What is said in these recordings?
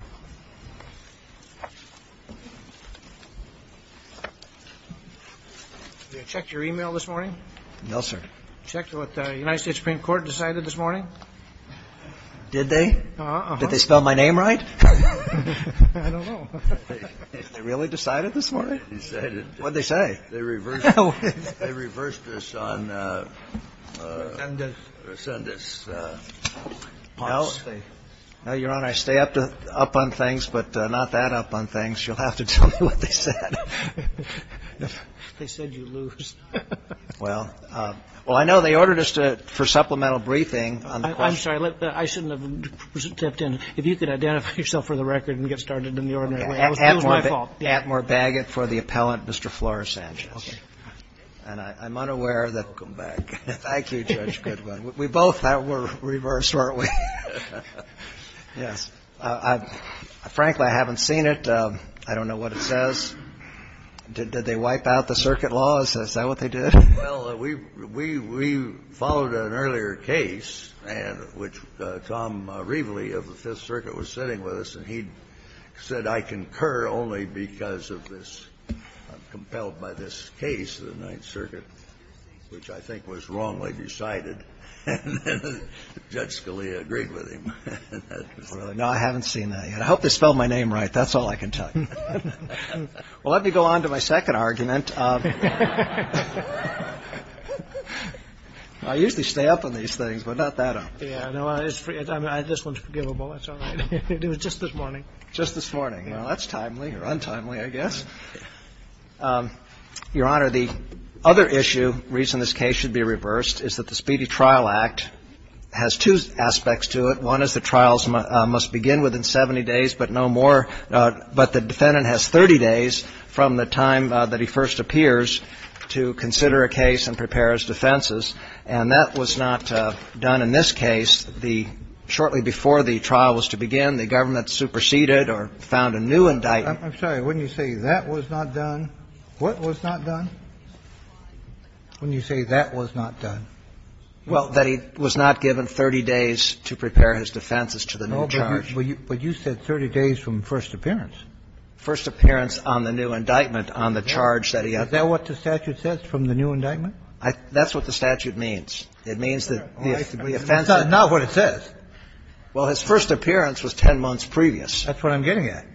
Did the United States Supreme Court decide this morning? Did they? Did they spell my name right? I don't know. They really decided this morning? Decided. What did they say? They reversed us on Resendez. No, Your Honor, I stay up on things, but not that up on things. You'll have to tell me what they said. They said you lose. Well, I know they ordered us to, for supplemental briefing on the question. I'm sorry, I shouldn't have stepped in. If you could identify yourself for the record and get started in the ordinary way. It was my fault. Atmore Baggett for the appellant, Mr. Flores-Sanchez. Okay. And I'm unaware that we both were reversed, weren't we? Yes. Frankly, I haven't seen it. I don't know what it says. Did they wipe out the circuit laws? Is that what they did? Well, we followed an earlier case, which Tom Reveley of the Fifth Circuit was sitting with us, and he said, I concur only because of this. I'm compelled by this case of the Ninth Circuit, which I think was wrongly decided. And Judge Scalia agreed with him. No, I haven't seen that yet. I hope they spelled my name right. That's all I can tell you. Well, let me go on to my second argument. I usually stay up on these things, but not that often. Yeah, no, this one's forgivable. It's all right. It was just this morning. Just this morning. Well, that's timely or untimely, I guess. Your Honor, the other issue, reason this case should be reversed, is that the Speedy Trial Act has two aspects to it. One is the trials must begin within 70 days, but no more, but the defendant has 30 days from the time that he first appears to consider a case and prepare his defenses. And that was not done in this case. The shortly before the trial was to begin, the government superseded or found a new indictment. I'm sorry. Wouldn't you say that was not done? What was not done? Wouldn't you say that was not done? Well, that he was not given 30 days to prepare his defenses to the new charge. No, but you said 30 days from first appearance. First appearance on the new indictment on the charge that he had. Is that what the statute says, from the new indictment? That's what the statute means. It means that the offense is. That's not what it says. Well, his first appearance was 10 months previous. That's what I'm getting at.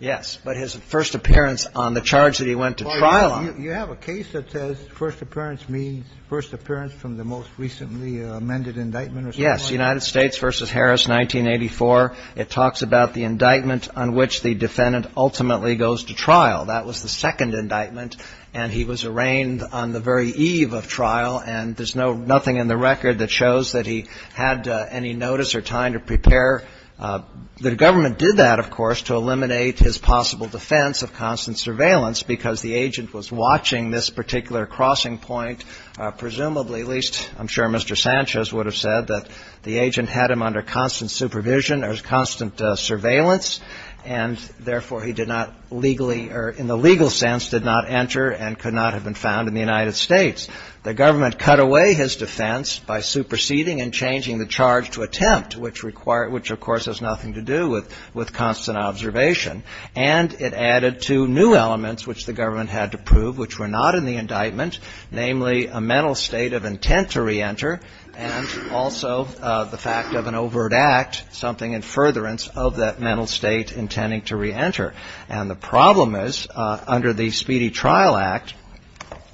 Yes. But his first appearance on the charge that he went to trial on. You have a case that says first appearance means first appearance from the most recently amended indictment or something like that? Yes. United States v. Harris, 1984. It talks about the indictment on which the defendant ultimately goes to trial. That was the second indictment. And he was arraigned on the very eve of trial. And there's nothing in the record that shows that he had any notice or time to prepare. The government did that, of course, to eliminate his possible defense of constant surveillance, because the agent was watching this particular crossing point. Presumably, at least I'm sure Mr. Sanchez would have said, that the agent had him under constant supervision or constant surveillance, and, therefore, he did not legally or in the legal sense did not enter and could not have been found in the United States. The government cut away his defense by superseding and changing the charge to attempt, which requires ‑‑ which, of course, has nothing to do with constant observation. And it added to new elements, which the government had to prove, which were not in the indictment, namely a mental state of intent to reenter and also the fact of an overt act, something in furtherance of that mental state intending to reenter. And the problem is, under the Speedy Trial Act,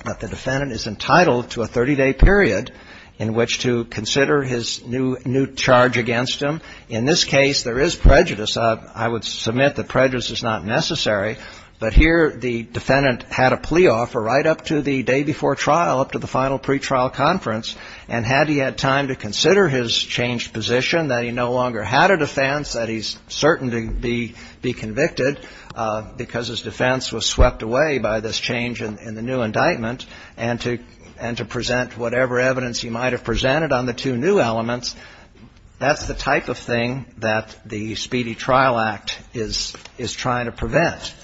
that the defendant is entitled to a 30-day period in which to consider his new charge against him. In this case, there is prejudice. I would submit that prejudice is not necessary. But here the defendant had a plea offer right up to the day before trial, up to the final pretrial conference, and had he had time to consider his changed position, that he no longer had a defense, that he's certain to be convicted because his defense was swept away by this change in the new indictment, and to present whatever evidence he might have presented on the two new elements, that's the type of thing that the Speedy Trial Act is trying to prevent.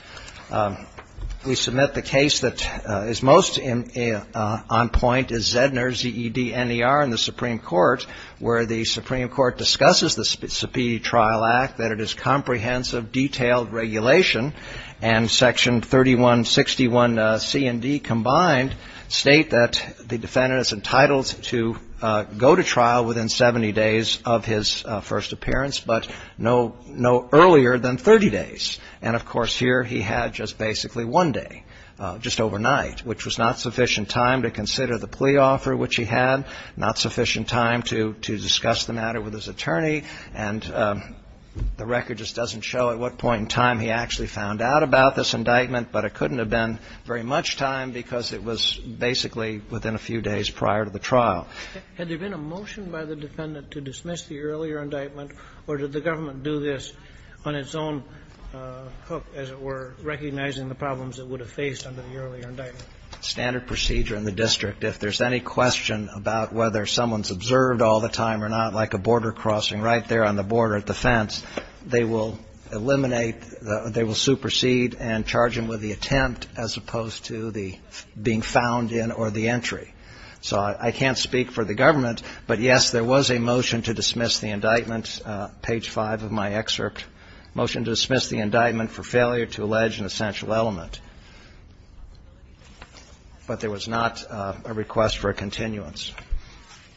We submit the case that is most on point is Zedner, Z-E-D-N-E-R, in the Supreme Court, where the Supreme Court discusses the Speedy Trial Act, that it is comprehensive, detailed regulation, and Section 3161C and D combined state that the defendant is entitled to go to trial within 70 days of his first appearance, but no other earlier than 30 days. And, of course, here he had just basically one day, just overnight, which was not sufficient time to consider the plea offer which he had, not sufficient time to discuss the matter with his attorney, and the record just doesn't show at what point in time he actually found out about this indictment, but it couldn't have been very much time because of the delay in his trial. Had there been a motion by the defendant to dismiss the earlier indictment, or did the government do this on its own hook, as it were, recognizing the problems it would have faced under the earlier indictment? Standard procedure in the district. If there's any question about whether someone's observed all the time or not, like a border crossing right there on the border at the fence, they will eliminate the – they will supersede and charge him with the attempt as opposed to the being found in or the entry. So I can't speak for the government, but, yes, there was a motion to dismiss the indictment, page 5 of my excerpt, motion to dismiss the indictment for failure to allege an essential element. But there was not a request for a continuance.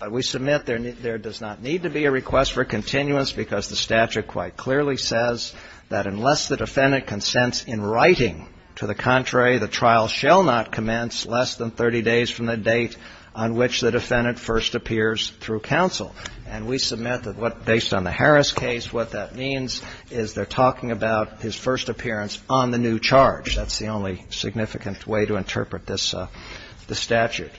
We submit there does not need to be a request for a continuance because the statute quite clearly says that unless the defendant consents in writing to the contrary, the trial shall not commence less than 30 days from the date on which the defendant first appears through counsel. And we submit that what – based on the Harris case, what that means is they're talking about his first appearance on the new charge. That's the only significant way to interpret this statute.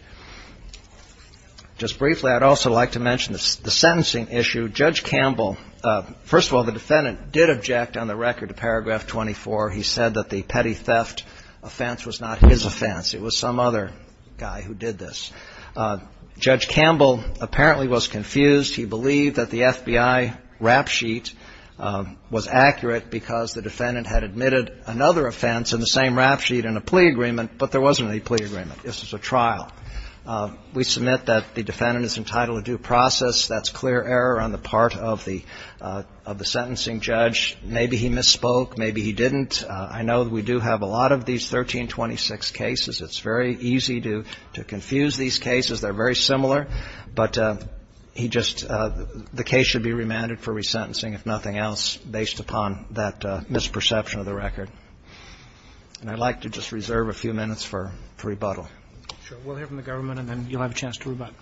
Just briefly, I'd also like to mention the sentencing issue. Judge Campbell – first of all, the defendant did object on the record to paragraph 24. He said that the petty theft offense was not his offense. It was some other guy who did this. Judge Campbell apparently was confused. He believed that the FBI rap sheet was accurate because the defendant had admitted another offense in the same rap sheet in a plea agreement, but there wasn't any plea agreement. This was a trial. We submit that the defendant is entitled to due process. That's clear error on the part of the sentencing judge. Maybe he misspoke. Maybe he didn't. I know we do have a lot of these 1326 cases. It's very easy to confuse these cases. They're very similar. But he just – the case should be remanded for resentencing, if nothing else, based upon that misperception of the record. And I'd like to just reserve a few minutes for rebuttal. We'll hear from the government, and then you'll have a chance to rebut.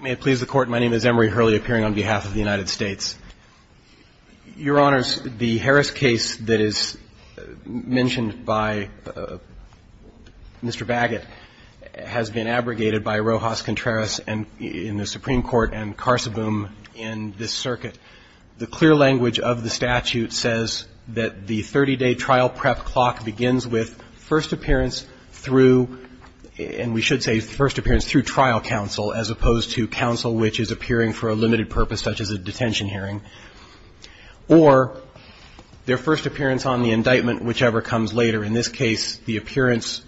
May it please the Court. My name is Emery Hurley, appearing on behalf of the United States. Your Honors, the Harris case that is mentioned by Mr. Baggett has been abrogated by Rojas Contreras in the Supreme Court and Carsoboom in this circuit. The clear language of the statute says that the 30-day trial prep clock begins with first appearance through – and we should say first appearance through trial counsel, as opposed to counsel which is appearing for a limited purpose, such as a detention hearing, or their first appearance on the indictment, whichever comes later. In this case, the appearance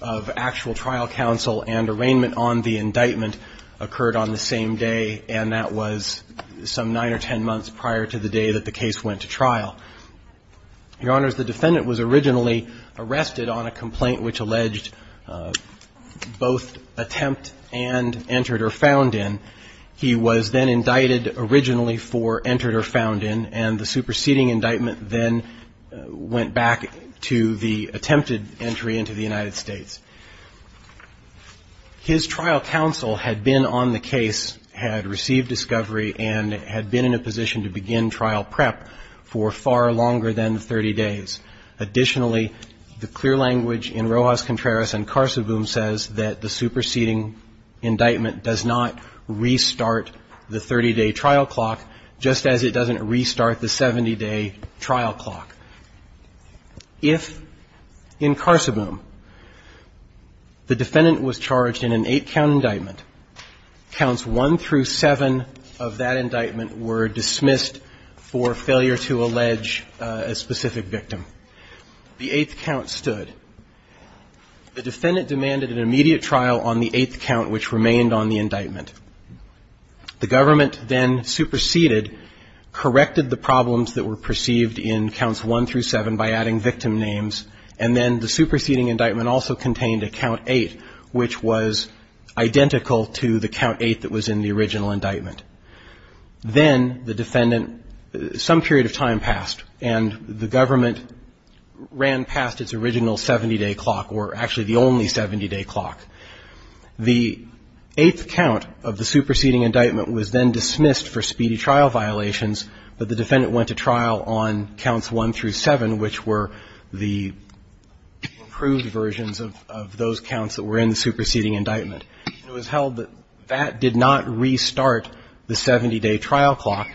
of actual trial counsel and arraignment on the indictment occurred on the same day, and that was some nine or ten months prior to the day that the case went to trial. Your Honors, the defendant was originally arrested on a complaint which alleged both attempt and entered or found in. He was then indicted originally for entered or found in, and the superseding indictment then went back to the attempted entry into the United States. His trial counsel had been on the case, had received discovery, and had been in a position to begin trial prep for far longer than 30 days. Additionally, the clear language in Rojas Contreras and Carsoboom says that the superseding indictment does not restart the 30-day trial clock, just as it doesn't restart the 70-day trial clock. If, in Carsoboom, the defendant was charged in an eight-count indictment, counts one through seven of that indictment were dismissed for failure to allege a specific victim. The eighth count stood. The defendant demanded an immediate trial on the eighth count, which remained on the The defendant was then indicted on counts one through seven by adding victim names, and then the superseding indictment also contained a count eight, which was identical to the count eight that was in the original indictment. Then the defendant, some period of time passed, and the government ran past its original 70-day trial clock count, 3 to 7, which were the proved versions of those counts that were in the superseding indictment. It was held that that did not restart the 70-day trial clock.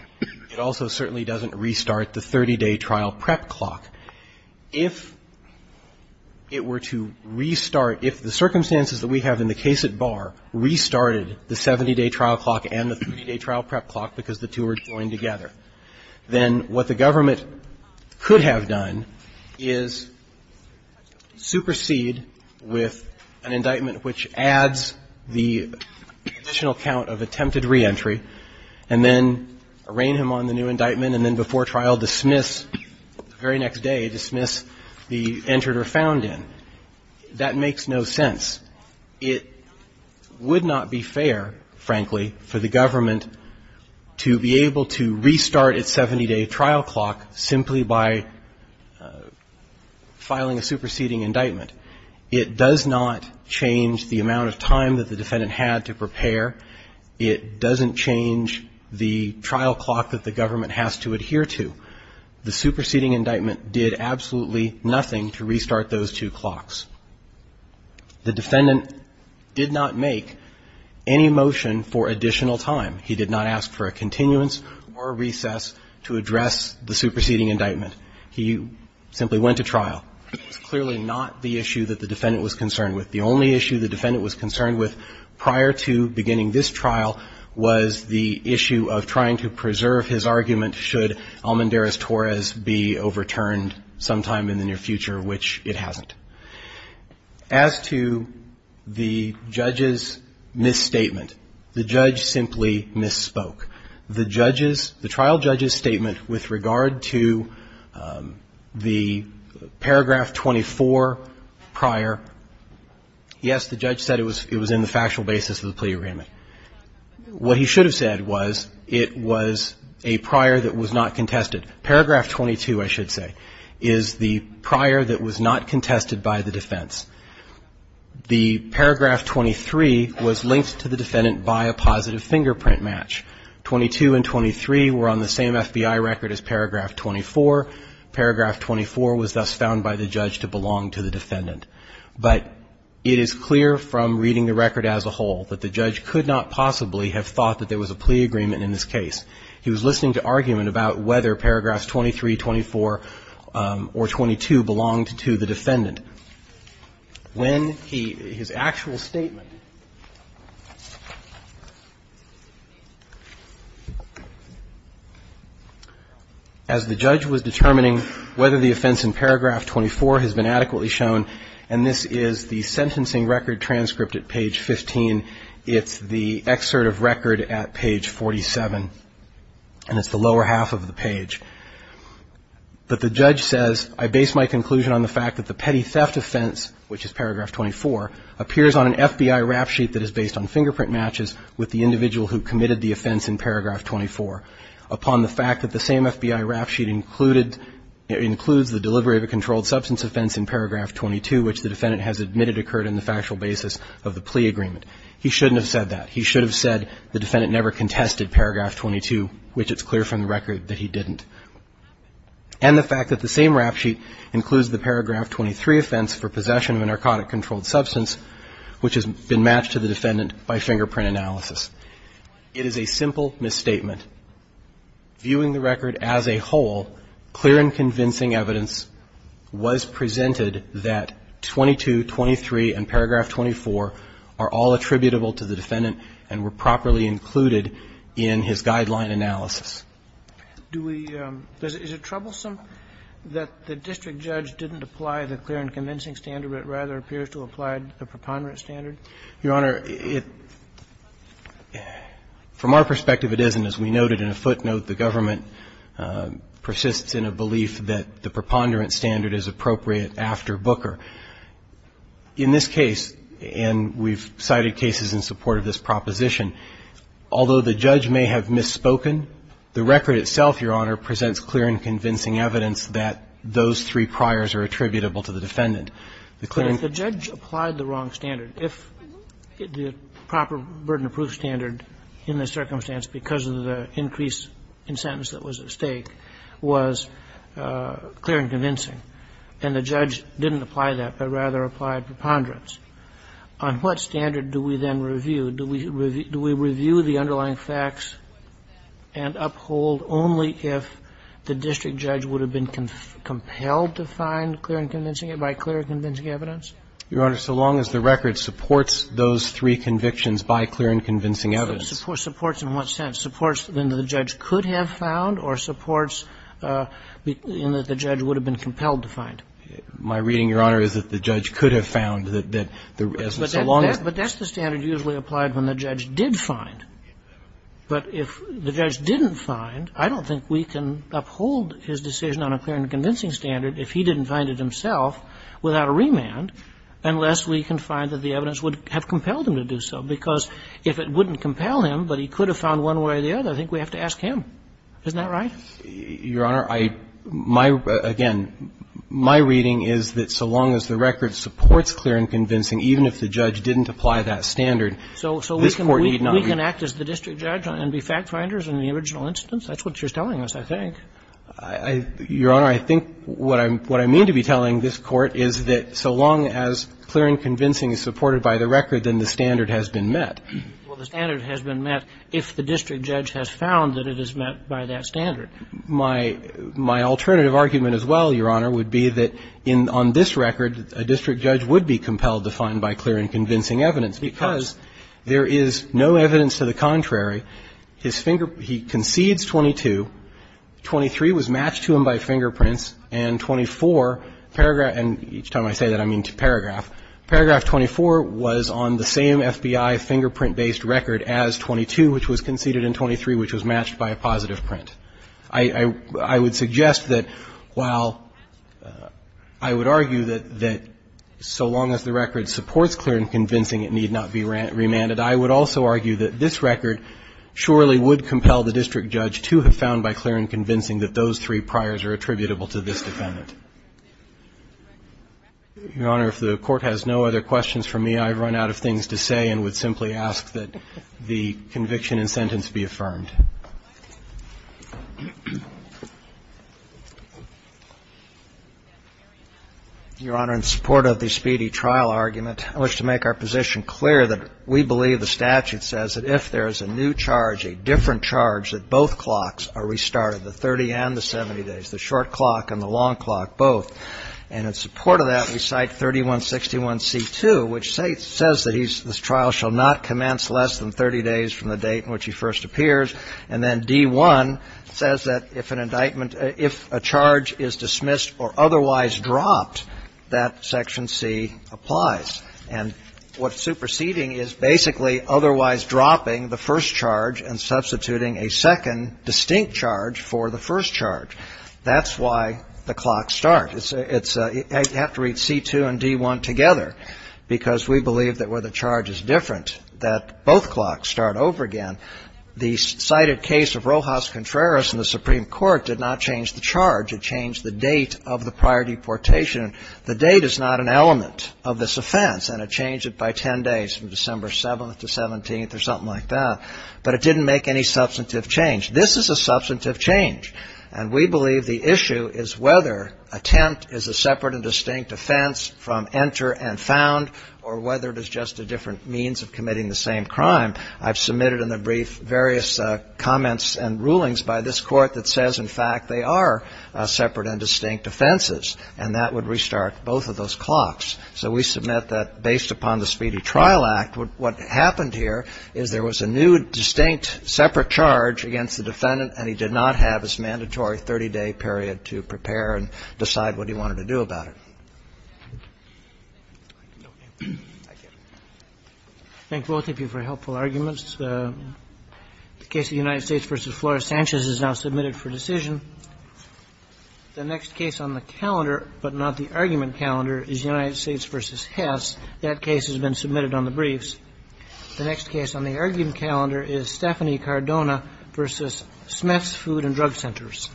It also certainly doesn't restart the 30-day trial prep clock. If it were to restart, if the circumstances that we have in the case at Bayr restarted the 70-day trial clock and the 30-day trial prep clock because the two were joined together, then what the government could have done is supersede with an indictment which adds the additional count of attempted reentry and then arraign him on the new indictment and then before trial dismiss the very next day, dismiss the entered or found in. That makes no sense. It would not be fair, frankly, for the government to be able to restart its 70-day trial clock simply by filing a superseding indictment. It does not change the amount of time that the defendant had to prepare. It doesn't change the trial clock that the government has to adhere to. The superseding indictment did absolutely nothing to restart those two clocks. The defendant did not make any motion for additional time. He did not ask for a continuance or a recess to address the superseding indictment. He simply went to trial. It was clearly not the issue that the defendant was concerned with. The only issue the defendant was concerned with prior to beginning this trial was the issue of trying to preserve his argument should Almendarez-Torres be overturned sometime in the near future, which it hasn't. As to the judge's misstatement, the judge simply misspoke. The trial judge's statement with regard to the paragraph 24 prior, yes, the judge said it was in the factual basis of the plea agreement. What he should have said was it was a prior that was not contested. Paragraph 22, I should say, is the prior that was not contested by the defense. The paragraph 23 was linked to the defendant by a positive fingerprint match. 22 and 23 were on the same FBI record as paragraph 24. Paragraph 24 was thus found by the judge to belong to the defendant. But it is clear from reading the record as a whole that the judge could not possibly have thought that there was a plea agreement in this case. He was listening to argument about whether paragraphs 23, 24, or 22 belonged to the defendant. When his actual statement, as the judge was determining whether the offense in paragraph 24 has been adequately shown, and this is the sentencing record transcript at page 15, it's the excerpt of record at page 47. And it's the lower half of the page. But the judge says, I base my conclusion on the fact that the petty theft offense, which is paragraph 24, appears on an FBI rap sheet that is based on fingerprint matches with the individual who committed the offense in paragraph 24. Upon the fact that the same FBI rap sheet included, includes the delivery of a controlled substance offense in paragraph 22, which the defendant has admitted occurred in the factual basis of the plea agreement. He shouldn't have said that. He should have said the defendant never contested paragraph 22, which it's clear from the record that he didn't. And the fact that the same rap sheet includes the paragraph 23 offense for possession of a narcotic controlled substance, which has been matched to the defendant by fingerprint analysis. It is a simple misstatement. Viewing the record as a whole, clear and convincing evidence was presented that 22, 23, and paragraph 24 are all attributable to the defendant and were properly included in his guideline analysis. Do we – is it troublesome that the district judge didn't apply the clear and convincing standard, but rather appears to have applied the preponderant standard? Your Honor, from our perspective, it isn't. As we noted in a footnote, the government persists in a belief that the preponderant standard is appropriate after Booker. In this case, and we've cited cases in support of this proposition, although the judge may have misspoken, the record itself, Your Honor, presents clear and convincing evidence that those three priors are attributable to the defendant. The clear and – If the judge applied the wrong standard, if the proper burden of proof standard in this circumstance, because of the increase in sentence that was at stake, was clear and convincing, and the judge didn't apply that, but rather applied preponderance, on what standard do we then review? Do we review the underlying facts and uphold only if the district judge would have been compelled to find clear and convincing evidence? Your Honor, so long as the record supports those three convictions by clear and convincing evidence. Supports in what sense? Supports in that the judge could have found, or supports in that the judge would have been compelled to find? My reading, Your Honor, is that the judge could have found. But that's the standard usually applied when the judge did find. But if the judge didn't find, I don't think we can uphold his decision on a clear and convincing standard if he didn't find it himself without a remand, unless we can find that the evidence would have compelled him to do so. Because if it wouldn't compel him, but he could have found one way or the other, I think we have to ask him. Isn't that right? Your Honor, I – my – again, my reading is that so long as the record supports clear and convincing, even if the judge didn't apply that standard, this Court need not review. We can act as the district judge and be fact-finders in the original instance. That's what you're telling us, I think. I – Your Honor, I think what I'm – what I mean to be telling this Court is that so long as clear and convincing is supported by the record, then the standard has been met. Well, the standard has been met if the district judge has found that it is met by that standard. My – my alternative argument as well, Your Honor, would be that in – on this record, a district judge would be compelled to find by clear and convincing evidence because there is no evidence to the contrary. His finger – he concedes 22, 23 was matched to him by fingerprints, and 24, paragraph – and each time I say that, I mean to paragraph – paragraph 24 was on the same FBI fingerprint-based record as 22, which was conceded, and 23, which was matched by a positive print. I – I would suggest that while I would argue that so long as the record supports clear and convincing, it need not be remanded, I would also argue that this record surely would compel the district judge to have found by clear and convincing that those three priors are attributable to this defendant. Your Honor, if the Court has no other questions for me, I've run out of things to say and would simply ask that the conviction and sentence be affirmed. Your Honor, in support of the speedy trial argument, I wish to make our position clear that we believe the statute says that if there is a new charge, a different charge, that both clocks are restarted, the 30 and the 70 days, the short clock and the long clock both. And in support of that, we cite 3161c2, which says that he's – this trial shall not commence less than 30 days from the date in which he first appears, and then D-1 says that if an indictment – if a charge is dismissed or otherwise dropped, that section C applies. And what's superseding is basically otherwise dropping the first charge and substituting a second distinct charge for the first charge. That's why the clocks start. You have to read C-2 and D-1 together because we believe that where the charge is different, that both clocks start over again. The cited case of Rojas Contreras in the Supreme Court did not change the charge. It changed the date of the prior deportation. The date is not an element of this offense, and it changed it by 10 days from December 7th to 17th or something like that. But it didn't make any substantive change. This is a substantive change, and we believe the issue is whether attempt is a separate and distinct offense from enter and found or whether it is just a different means of committing the same crime. I've submitted in the brief various comments and rulings by this Court that says, in fact, they are separate and distinct offenses, and that would restart both of those clocks. So we submit that based upon the Speedy Trial Act, what happened here is there was a new, distinct, separate charge against the defendant, and he did not have his mandatory 30-day period to prepare and decide what he wanted to do about it. I thank both of you for helpful arguments. The case of United States v. Flores-Sanchez is now submitted for decision. The next case on the calendar, but not the argument calendar, is United States v. Hess. That case has been submitted on the briefs. The next case on the argument calendar is Stephanie Cardona v. Smith's Food and Drug Centers.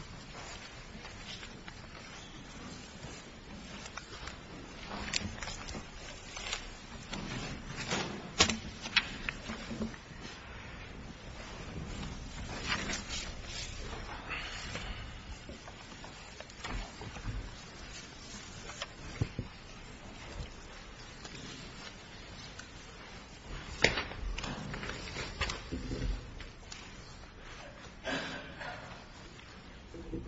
Thank you.